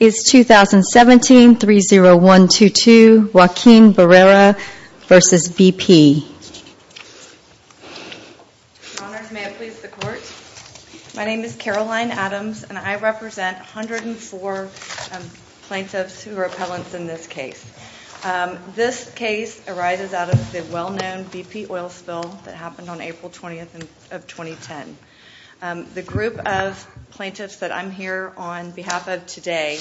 Is 2017-30122 Joaquin Barrera vs. BP? Your Honor, may I please the Court? My name is Caroline Adams, and I represent 104 plaintiffs who are appellants in this case. This case arises out of the well-known BP oil spill that happened on April 20th of 2010. The group of plaintiffs that I'm here on behalf of today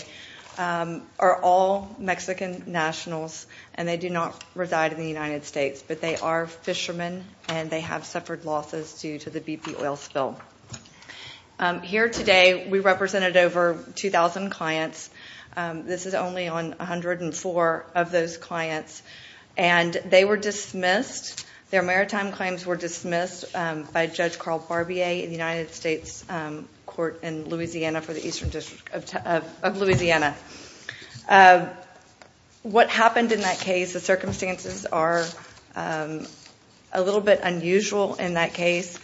are all Mexican nationals, and they do not reside in the United States, but they are fishermen, and they have suffered losses due to the BP oil spill. Here today we represented over 2,000 clients. This is only on 104 of those clients, and they were dismissed. Their maritime claims were dismissed by Judge Carl Barbier in the United States Court in Louisiana for the Eastern District of Louisiana. What happened in that case, the circumstances are a little bit unusual in that case.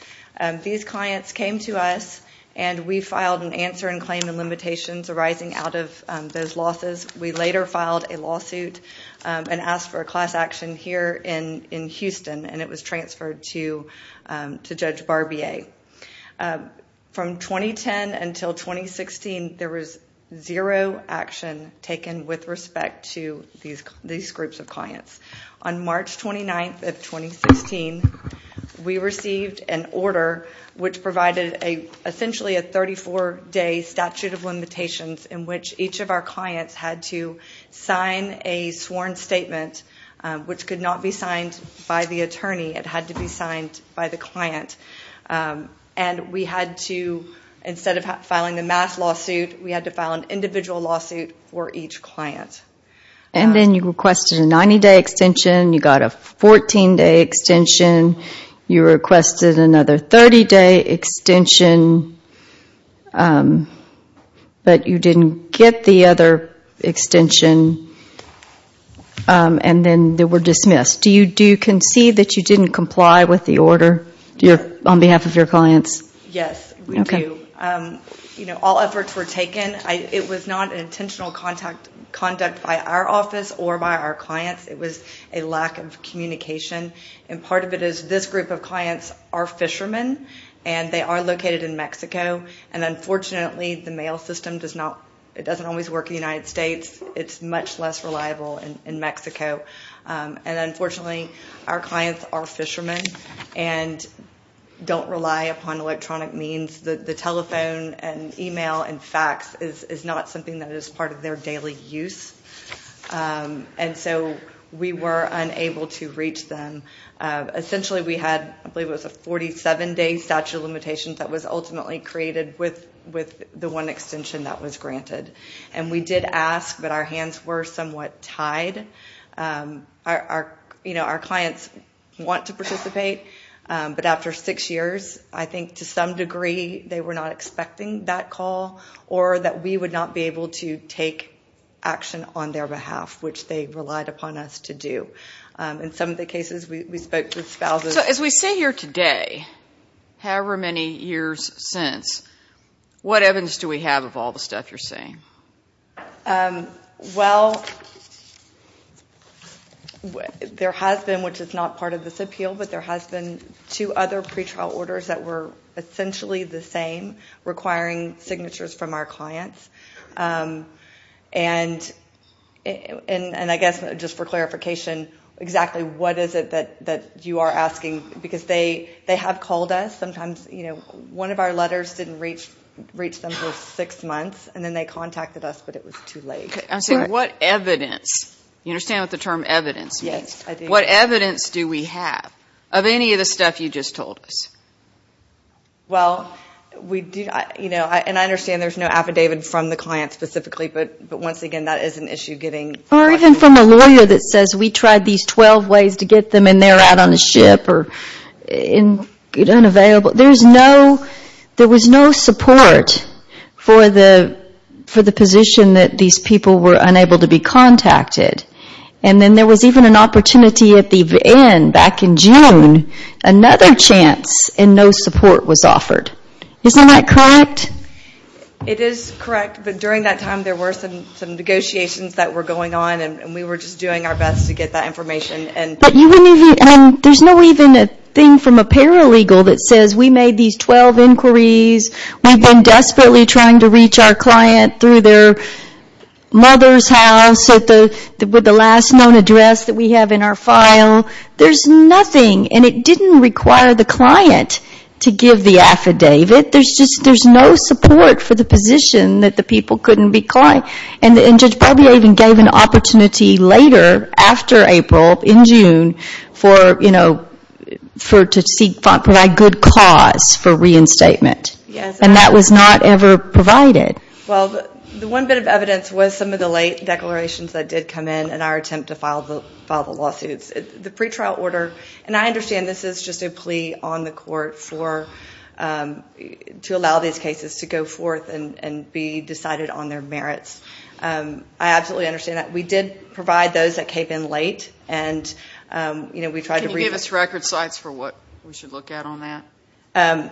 These clients came to us, and we filed an answer in claim and limitations arising out of those losses. We later filed a lawsuit and asked for a class action here in Houston, and it was transferred to Judge Barbier. From 2010 until 2016, there was zero action taken with respect to these groups of clients. On March 29th of 2016, we received an order which provided essentially a 34-day statute of limitations in which each of our clients had to sign a sworn statement, which could not be signed by the attorney. It had to be signed by the client. Instead of filing the mass lawsuit, we had to file an individual lawsuit for each client. Then you requested a 90-day extension. You got a 14-day extension. You requested another 30-day extension, but you didn't get the other extension, and then they were dismissed. Do you concede that you didn't comply with the order on behalf of your clients? Yes, we do. All efforts were taken. It was not an intentional conduct by our office or by our clients. It was a lack of communication. Part of it is this group of clients are fishermen, and they are located in Mexico. Unfortunately, the mail system doesn't always work in the United States. It's much less reliable in Mexico. Unfortunately, our clients are fishermen and don't rely upon electronic means. The telephone and email and fax is not something that is part of their daily use. We were unable to reach them. Essentially, we had a 47-day statute of limitations that was ultimately created with the one extension that was granted. We did ask, but our hands were somewhat tied. Our clients want to participate, but after six years, I think to some degree they were not expecting that call or that we would not be able to take action on their behalf, which they relied upon us to do. In some of the cases, we spoke to spouses. As we sit here today, however many years since, what evidence do we have of all the stuff you're saying? Well, there has been, which is not part of this appeal, but there has been two other pretrial orders that were essentially the same, requiring signatures from our clients. And I guess just for clarification, exactly what is it that you are asking? Because they have called us. Sometimes one of our letters didn't reach them for six months, and then they contacted us, but it was too late. I'm saying what evidence? You understand what the term evidence means? Yes, I do. I'm saying what evidence do we have of any of the stuff you just told us? Well, and I understand there's no affidavit from the client specifically, but once again, that is an issue getting... Or even from a lawyer that says we tried these 12 ways to get them, and they're out on a ship or unavailable. There was no support for the position that these people were unable to be contacted. And then there was even an opportunity at the end, back in June, another chance, and no support was offered. Isn't that correct? It is correct, but during that time there were some negotiations that were going on, and we were just doing our best to get that information. But there's not even a thing from a paralegal that says we made these 12 inquiries, we've been desperately trying to reach our client through their mother's house with the last known address that we have in our file. There's nothing, and it didn't require the client to give the affidavit. There's no support for the position that the people couldn't be contacted. And Judge Barbier even gave an opportunity later, after April, in June, to provide good cause for reinstatement. And that was not ever provided. Well, the one bit of evidence was some of the late declarations that did come in in our attempt to file the lawsuits. The pretrial order, and I understand this is just a plea on the court to allow these cases to go forth and be decided on their merits. I absolutely understand that. We did provide those that came in late. Can you give us record sites for what we should look at on that?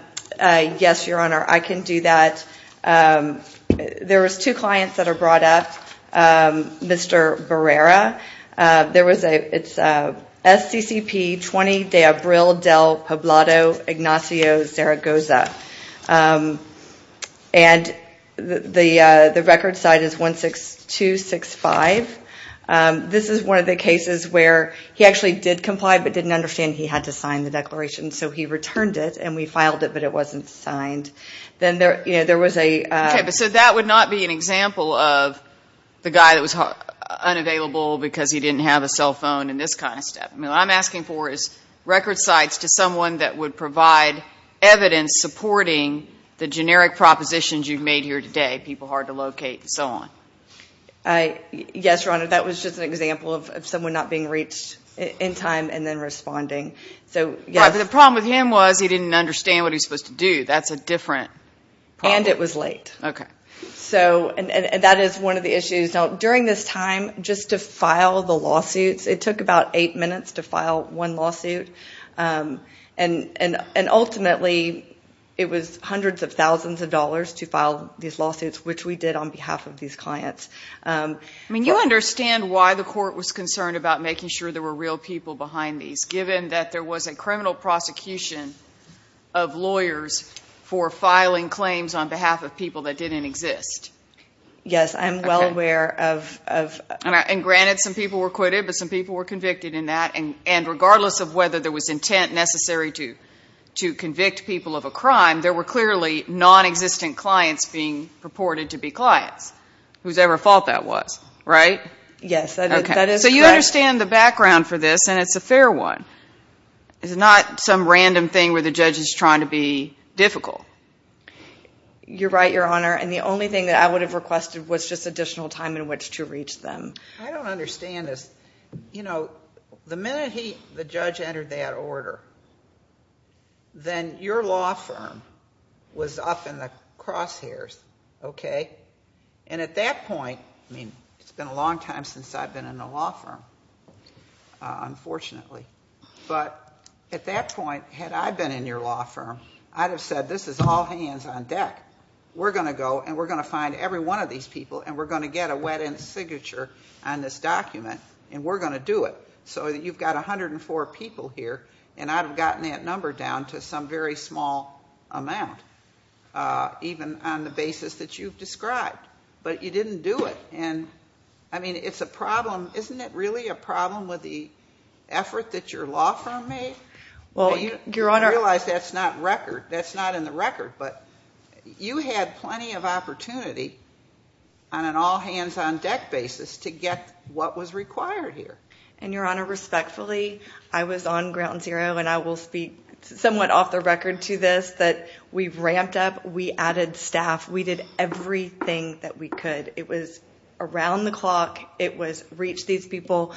Yes, Your Honor, I can do that. There was two clients that are brought up. Mr. Barrera. It's SCCP 20 de Abril del Poblado Ignacio Zaragoza. And the record site is 16265. This is one of the cases where he actually did comply but didn't understand he had to sign the declaration, so he returned it and we filed it, but it wasn't signed. So that would not be an example of the guy that was unavailable because he didn't have a cell phone and this kind of stuff. What I'm asking for is record sites to someone that would provide evidence supporting the generic propositions you've made here today, people hard to locate and so on. Yes, Your Honor, that was just an example of someone not being reached in time and then responding. But the problem with him was he didn't understand what he was supposed to do. That's a different problem. And it was late. Okay. And that is one of the issues. Now, during this time, just to file the lawsuits, it took about eight minutes to file one lawsuit, and ultimately it was hundreds of thousands of dollars to file these lawsuits, which we did on behalf of these clients. I mean, you understand why the court was concerned about making sure there were real people behind these, given that there was a criminal prosecution of lawyers for filing claims on behalf of people that didn't exist. Yes, I'm well aware of that. And granted, some people were acquitted, but some people were convicted in that. And regardless of whether there was intent necessary to convict people of a crime, there were clearly nonexistent clients being purported to be clients, whose ever fault that was, right? Yes, that is correct. I understand the background for this, and it's a fair one. It's not some random thing where the judge is trying to be difficult. You're right, Your Honor. And the only thing that I would have requested was just additional time in which to reach them. I don't understand this. You know, the minute the judge entered that order, then your law firm was up in the crosshairs, okay? And at that point, I mean, it's been a long time since I've been in a law firm, unfortunately. But at that point, had I been in your law firm, I'd have said, this is all hands on deck. We're going to go and we're going to find every one of these people, and we're going to get a wet end signature on this document, and we're going to do it. So you've got 104 people here, and I'd have gotten that number down to some very small amount, even on the basis that you've described. But you didn't do it. And, I mean, it's a problem. Isn't it really a problem with the effort that your law firm made? Well, Your Honor. I realize that's not record. That's not in the record. But you had plenty of opportunity on an all hands on deck basis to get what was required here. And, Your Honor, respectfully, I was on ground zero, and I will speak somewhat off the record to this, that we've ramped up. We added staff. We did everything that we could. It was around the clock. It was reach these people.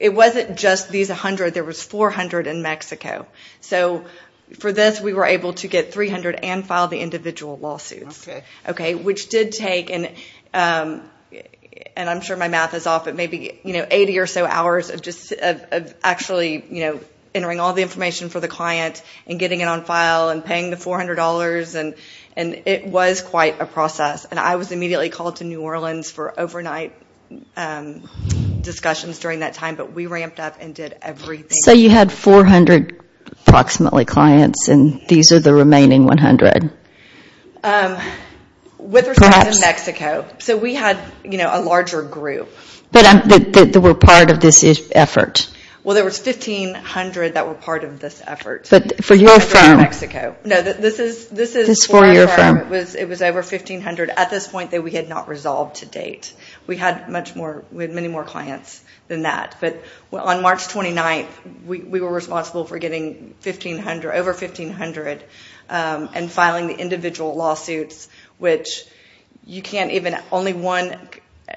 It wasn't just these 100. There was 400 in Mexico. So for this, we were able to get 300 and file the individual lawsuits. Okay. Which did take, and I'm sure my math is off, but maybe 80 or so hours of just actually entering all the information for the client and getting it on file and paying the $400. And it was quite a process. And I was immediately called to New Orleans for overnight discussions during that time. But we ramped up and did everything. So you had 400 approximately clients, and these are the remaining 100? With respect to Mexico. So we had a larger group. That were part of this effort. Well, there was 1,500 that were part of this effort. But for your firm. No, this is for our firm. It was over 1,500 at this point that we had not resolved to date. We had many more clients than that. But on March 29th, we were responsible for getting over 1,500 and filing the individual lawsuits. Which you can't even, only one,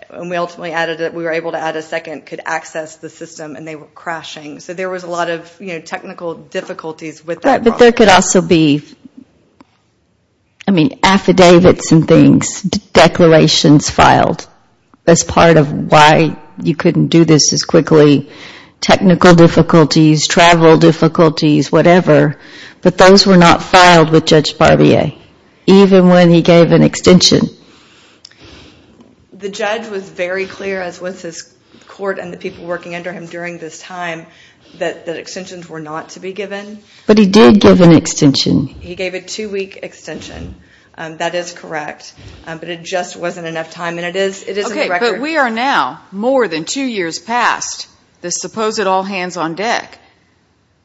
and we ultimately added that we were able to add a second, could access the system. And they were crashing. So there was a lot of technical difficulties with that process. But there could also be, I mean, affidavits and things, declarations filed. As part of why you couldn't do this as quickly. Technical difficulties, travel difficulties, whatever. But those were not filed with Judge Barbier. Even when he gave an extension. The judge was very clear, as was his court and the people working under him during this time. That extensions were not to be given. But he did give an extension. He gave a two-week extension. That is correct. But it just wasn't enough time. And it is in the record. Okay, but we are now more than two years past the suppose it all hands on deck.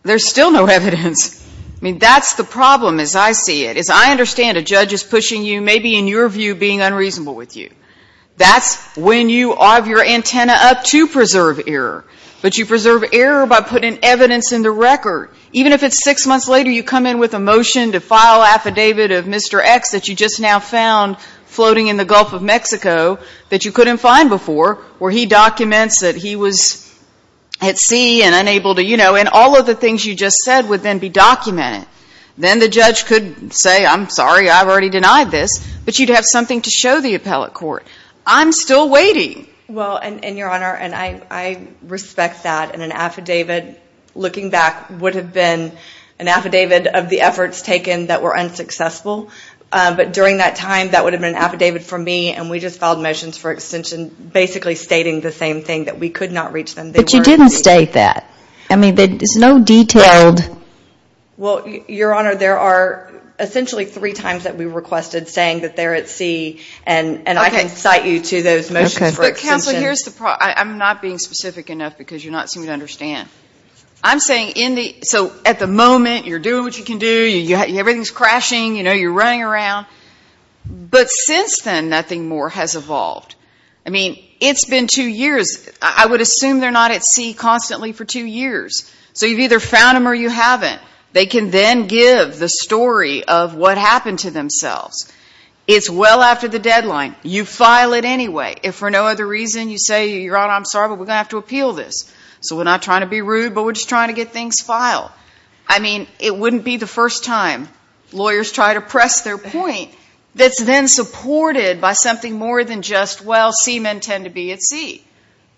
There's still no evidence. I mean, that's the problem as I see it. As I understand it, a judge is pushing you, maybe in your view, being unreasonable with you. That's when you have your antenna up to preserve error. But you preserve error by putting evidence in the record. Even if it's six months later, you come in with a motion to file affidavit of Mr. X that you just now found floating in the Gulf of Mexico that you couldn't find before, where he documents that he was at sea and unable to, you know. And all of the things you just said would then be documented. Then the judge could say, I'm sorry, I've already denied this. But you'd have something to show the appellate court. I'm still waiting. Well, and Your Honor, and I respect that. And an affidavit, looking back, would have been an affidavit of the efforts taken that were unsuccessful. But during that time, that would have been an affidavit from me. And we just filed motions for extension basically stating the same thing, that we could not reach them. But you didn't state that. I mean, there's no detailed. Well, Your Honor, there are essentially three times that we requested saying that they're at sea. And I can cite you to those motions for extension. Counsel, here's the problem. I'm not being specific enough because you're not seeming to understand. I'm saying, so at the moment, you're doing what you can do. Everything's crashing. You know, you're running around. But since then, nothing more has evolved. I mean, it's been two years. I would assume they're not at sea constantly for two years. So you've either found them or you haven't. They can then give the story of what happened to themselves. It's well after the deadline. You file it anyway. If for no other reason, you say, Your Honor, I'm sorry, but we're going to have to appeal this. So we're not trying to be rude, but we're just trying to get things filed. I mean, it wouldn't be the first time lawyers try to press their point that's then supported by something more than just, well, seamen tend to be at sea.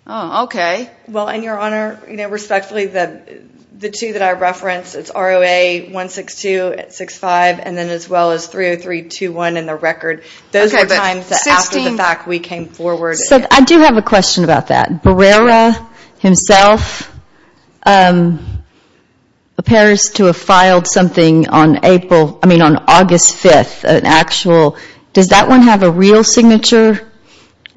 Oh, okay. Well, and, Your Honor, you know, respectfully, the two that I referenced, it's ROA 16265 and then as well as 30321 in the record. Those were the times that after the fact we came forward. So I do have a question about that. Barrera himself appears to have filed something on August 5th, an actual. Does that one have a real signature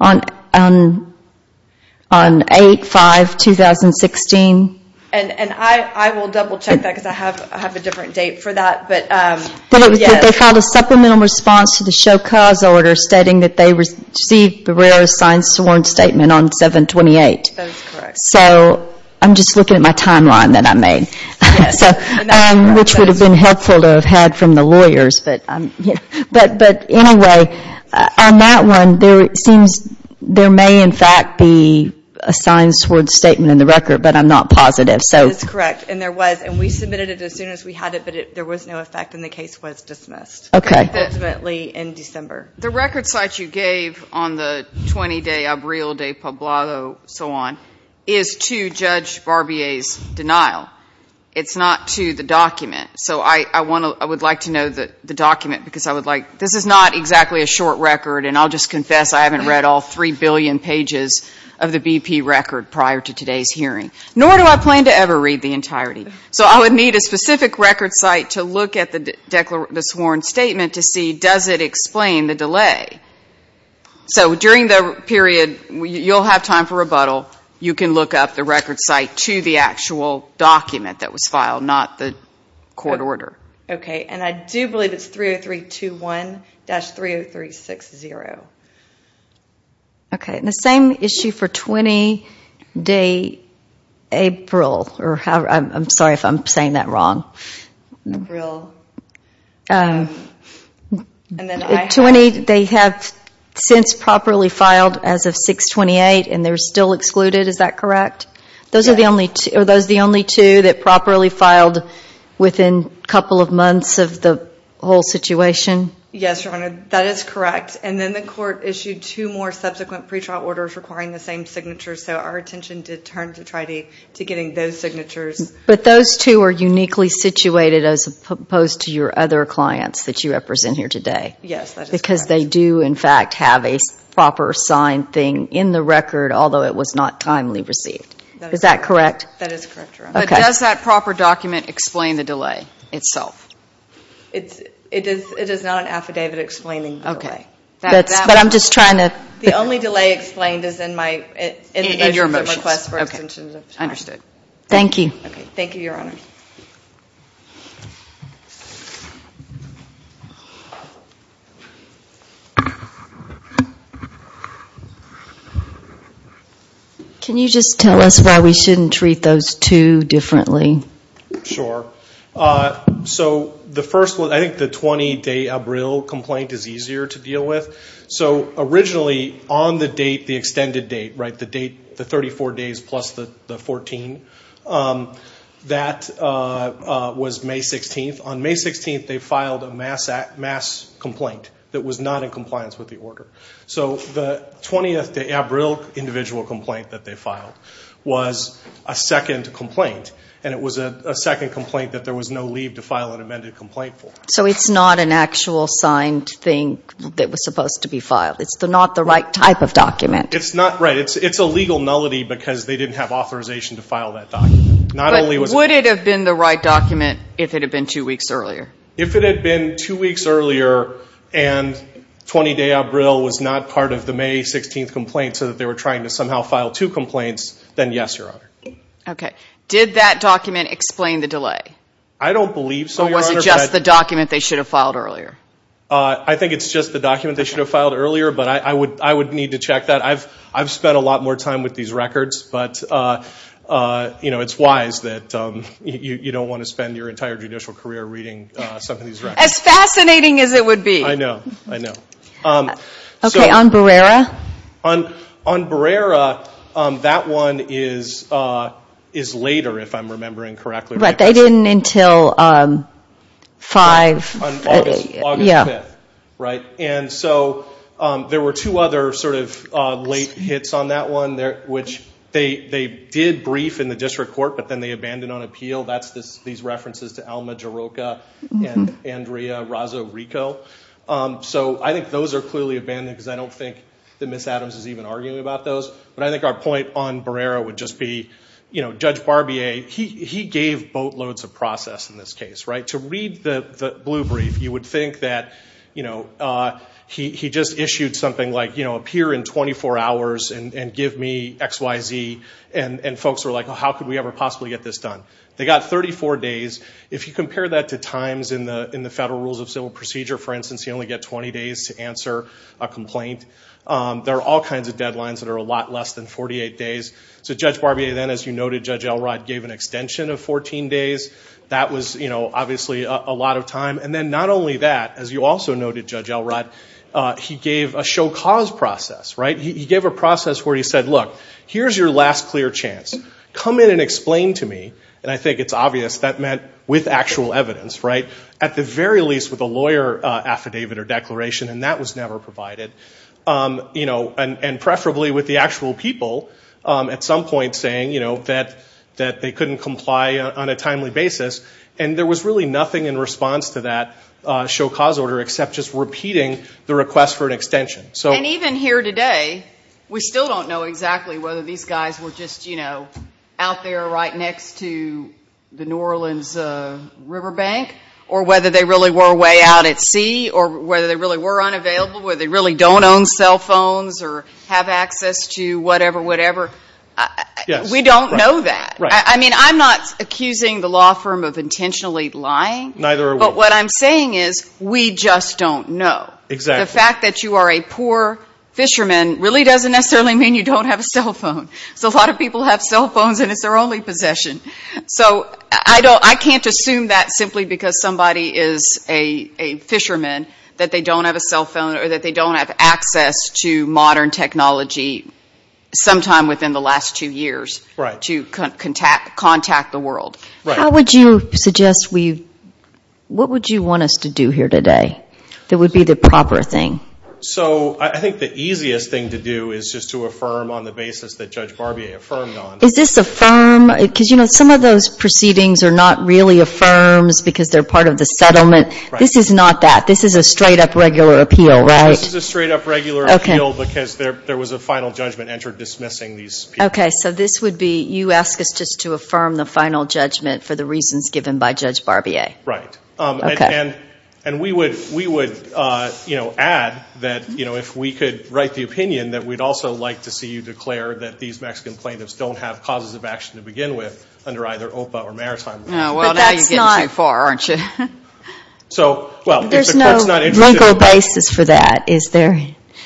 on 8-5-2016? And I will double check that because I have a different date for that. They filed a supplemental response to the show cause order stating that they received Barrera's signed sworn statement on 7-28. So I'm just looking at my timeline that I made, which would have been helpful to have had from the lawyers. But anyway, on that one, there may in fact be a signed sworn statement in the record, but I'm not positive. That is correct. And there was, and we submitted it as soon as we had it, but there was no effect and the case was dismissed. Okay. Ultimately in December. The record site you gave on the 20-day Abril de Poblado, so on, is to Judge Barbier's denial. It's not to the document. So I would like to know the document because I would like, this is not exactly a short record, and I'll just confess I haven't read all three billion pages of the BP record prior to today's hearing. Nor do I plan to ever read the entirety. So I would need a specific record site to look at the sworn statement to see, does it explain the delay? So during the period, you'll have time for rebuttal. You can look up the record site to the actual document that was filed, not the court order. Okay. And I do believe it's 30321-30360. Okay. And the same issue for 20-day April. I'm sorry if I'm saying that wrong. April. They have since properly filed as of 6-28, and they're still excluded. Is that correct? Those are the only two that properly filed within a couple of months of the whole situation? Yes, Your Honor. That is correct. And then the court issued two more subsequent pretrial orders requiring the same signatures, so our attention did turn to trying to getting those signatures. But those two are uniquely situated as opposed to your other clients that you represent here today? Yes, that is correct. Because they do, in fact, have a proper signed thing in the record, although it was not timely received. Is that correct? That is correct, Your Honor. But does that proper document explain the delay itself? It is not an affidavit explaining the delay. Okay. But I'm just trying to – The only delay explained is in your motions. Okay. Understood. Thank you. Thank you, Your Honor. Can you just tell us why we shouldn't treat those two differently? Sure. So the first one, I think the 20-day Abril complaint is easier to deal with. So originally, on the date, the extended date, right, the date, the 34 days plus the 14, that was May 16th. On May 16th, they filed a mass complaint that was not in compliance with the order. So the 20th day Abril individual complaint that they filed was a second complaint, and it was a second complaint that there was no leave to file an amended complaint for. So it's not an actual signed thing that was supposed to be filed. It's not the right type of document. It's not, right. It's a legal nullity because they didn't have authorization to file that document. But would it have been the right document if it had been two weeks earlier? If it had been two weeks earlier and 20 day Abril was not part of the May 16th complaint so that they were trying to somehow file two complaints, then yes, Your Honor. Okay. Did that document explain the delay? I don't believe so, Your Honor. Or was it just the document they should have filed earlier? I think it's just the document they should have filed earlier, but I would need to check that. I've spent a lot more time with these records, but, you know, it's wise that you don't want to spend your entire judicial career reading some of these records. As fascinating as it would be. I know. I know. Okay. On Barrera? On Barrera, that one is later, if I'm remembering correctly. Right. They didn't until 5. On August 5th. Right. And so there were two other sort of late hits on that one, which they did brief in the district court, but then they abandoned on appeal. That's these references to Alma Jarocha and Andrea Razzarico. So I think those are clearly abandoned because I don't think that Ms. Adams is even arguing about those. But I think our point on Barrera would just be, you know, Judge Barbier, he gave boatloads of process in this case. To read the blue brief, you would think that, you know, he just issued something like, you know, appear in 24 hours and give me X, Y, Z. And folks were like, how could we ever possibly get this done? They got 34 days. If you compare that to times in the Federal Rules of Civil Procedure, for instance, you only get 20 days to answer a complaint. There are all kinds of deadlines that are a lot less than 48 days. So Judge Barbier then, as you noted, Judge Elrod gave an extension of 14 days. That was, you know, obviously a lot of time. And then not only that, as you also noted, Judge Elrod, he gave a show cause process, right? He gave a process where he said, look, here's your last clear chance. Come in and explain to me. And I think it's obvious that meant with actual evidence, right? At the very least with a lawyer affidavit or declaration, and that was never provided. You know, and preferably with the actual people at some point saying, you know, that they couldn't comply on a timely basis. And there was really nothing in response to that show cause order except just repeating the request for an extension. And even here today, we still don't know exactly whether these guys were just, you know, out there right next to the New Orleans river bank or whether they really were way out at sea or whether they really were unavailable, whether they really don't own cell phones or have access to whatever, whatever. We don't know that. I mean, I'm not accusing the law firm of intentionally lying. Neither are we. But what I'm saying is we just don't know. Exactly. But the fact that you are a poor fisherman really doesn't necessarily mean you don't have a cell phone. Because a lot of people have cell phones and it's their only possession. So I can't assume that simply because somebody is a fisherman that they don't have a cell phone or that they don't have access to modern technology sometime within the last two years to contact the world. How would you suggest we, what would you want us to do here today that would be the proper thing? So I think the easiest thing to do is just to affirm on the basis that Judge Barbier affirmed on. Is this affirm? Because, you know, some of those proceedings are not really affirms because they're part of the settlement. This is not that. This is a straight-up regular appeal, right? This is a straight-up regular appeal because there was a final judgment entered dismissing these people. Okay. So this would be you ask us just to affirm the final judgment for the reasons given by Judge Barbier. Right. Okay. And we would, you know, add that, you know, if we could write the opinion that we'd also like to see you declare that these Mexican plaintiffs don't have causes of action to begin with under either OPA or maritime law. Well, now you're getting too far, aren't you? So, well, if the court's not interested. There's no legal basis for that, is there?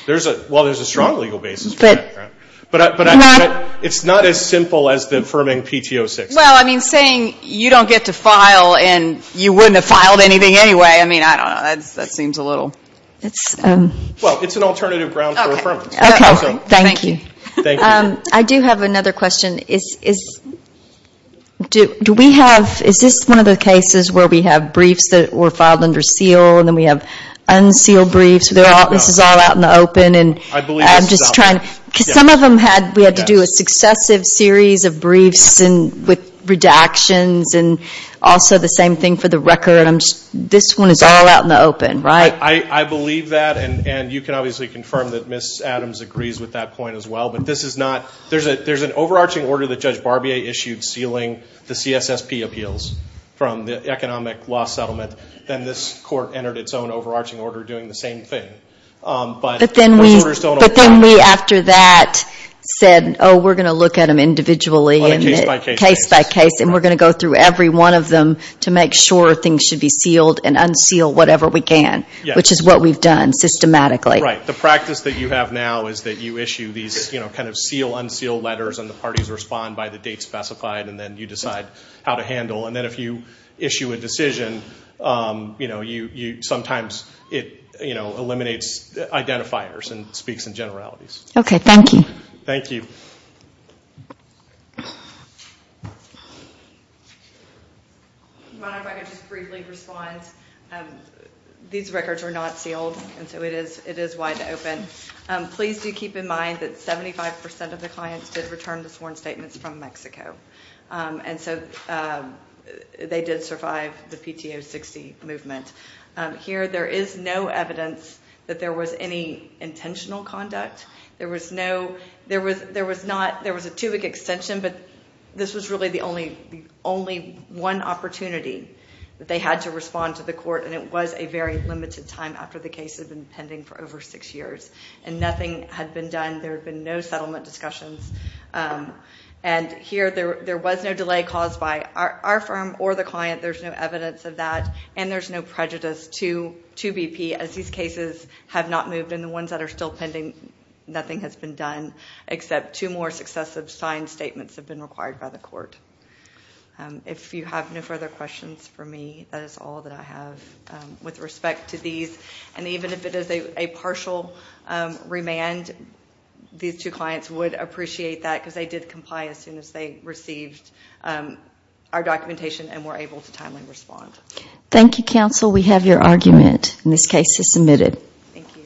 Well, there's a strong legal basis for that. But it's not as simple as affirming PTO 6. Well, I mean, saying you don't get to file and you wouldn't have filed anything anyway. I mean, I don't know. That seems a little. Well, it's an alternative ground for affirmation. Okay. Thank you. I do have another question. Is this one of the cases where we have briefs that were filed under seal and then we have unsealed briefs? This is all out in the open. I believe this is out in the open. Because some of them we had to do a successive series of briefs with redactions and also the same thing for the record. This one is all out in the open, right? I believe that. And you can obviously confirm that Ms. Adams agrees with that point as well. But this is not. There's an overarching order that Judge Barbier issued sealing the CSSP appeals from the economic law settlement. Then this court entered its own overarching order doing the same thing. But those orders don't apply. But then we, after that, said, oh, we're going to look at them individually, case by case, and we're going to go through every one of them to make sure things should be sealed and unsealed whatever we can, which is what we've done systematically. Right. The practice that you have now is that you issue these kind of seal, unseal letters, and the parties respond by the date specified, and then you decide how to handle. And then if you issue a decision, sometimes it eliminates identifiers and speaks in generalities. Okay. Thank you. Thank you. If I could just briefly respond. These records are not sealed, and so it is wide open. Please do keep in mind that 75% of the clients did return the sworn statements from Mexico. And so they did survive the PTO 60 movement. Here there is no evidence that there was any intentional conduct. There was no ‑‑ there was not ‑‑ there was a tubic extension, but this was really the only one opportunity that they had to respond to the court, and it was a very limited time after the case had been pending for over six years. And nothing had been done. There had been no settlement discussions. And here there was no delay caused by our firm or the client. There's no evidence of that. And there's no prejudice to BP as these cases have not moved. And the ones that are still pending, nothing has been done except two more successive signed statements have been required by the court. If you have no further questions for me, that is all that I have with respect to these. And even if it is a partial remand, these two clients would appreciate that because they did comply as soon as they received our documentation and were able to timely respond. Thank you, counsel. We have your argument. And this case is submitted.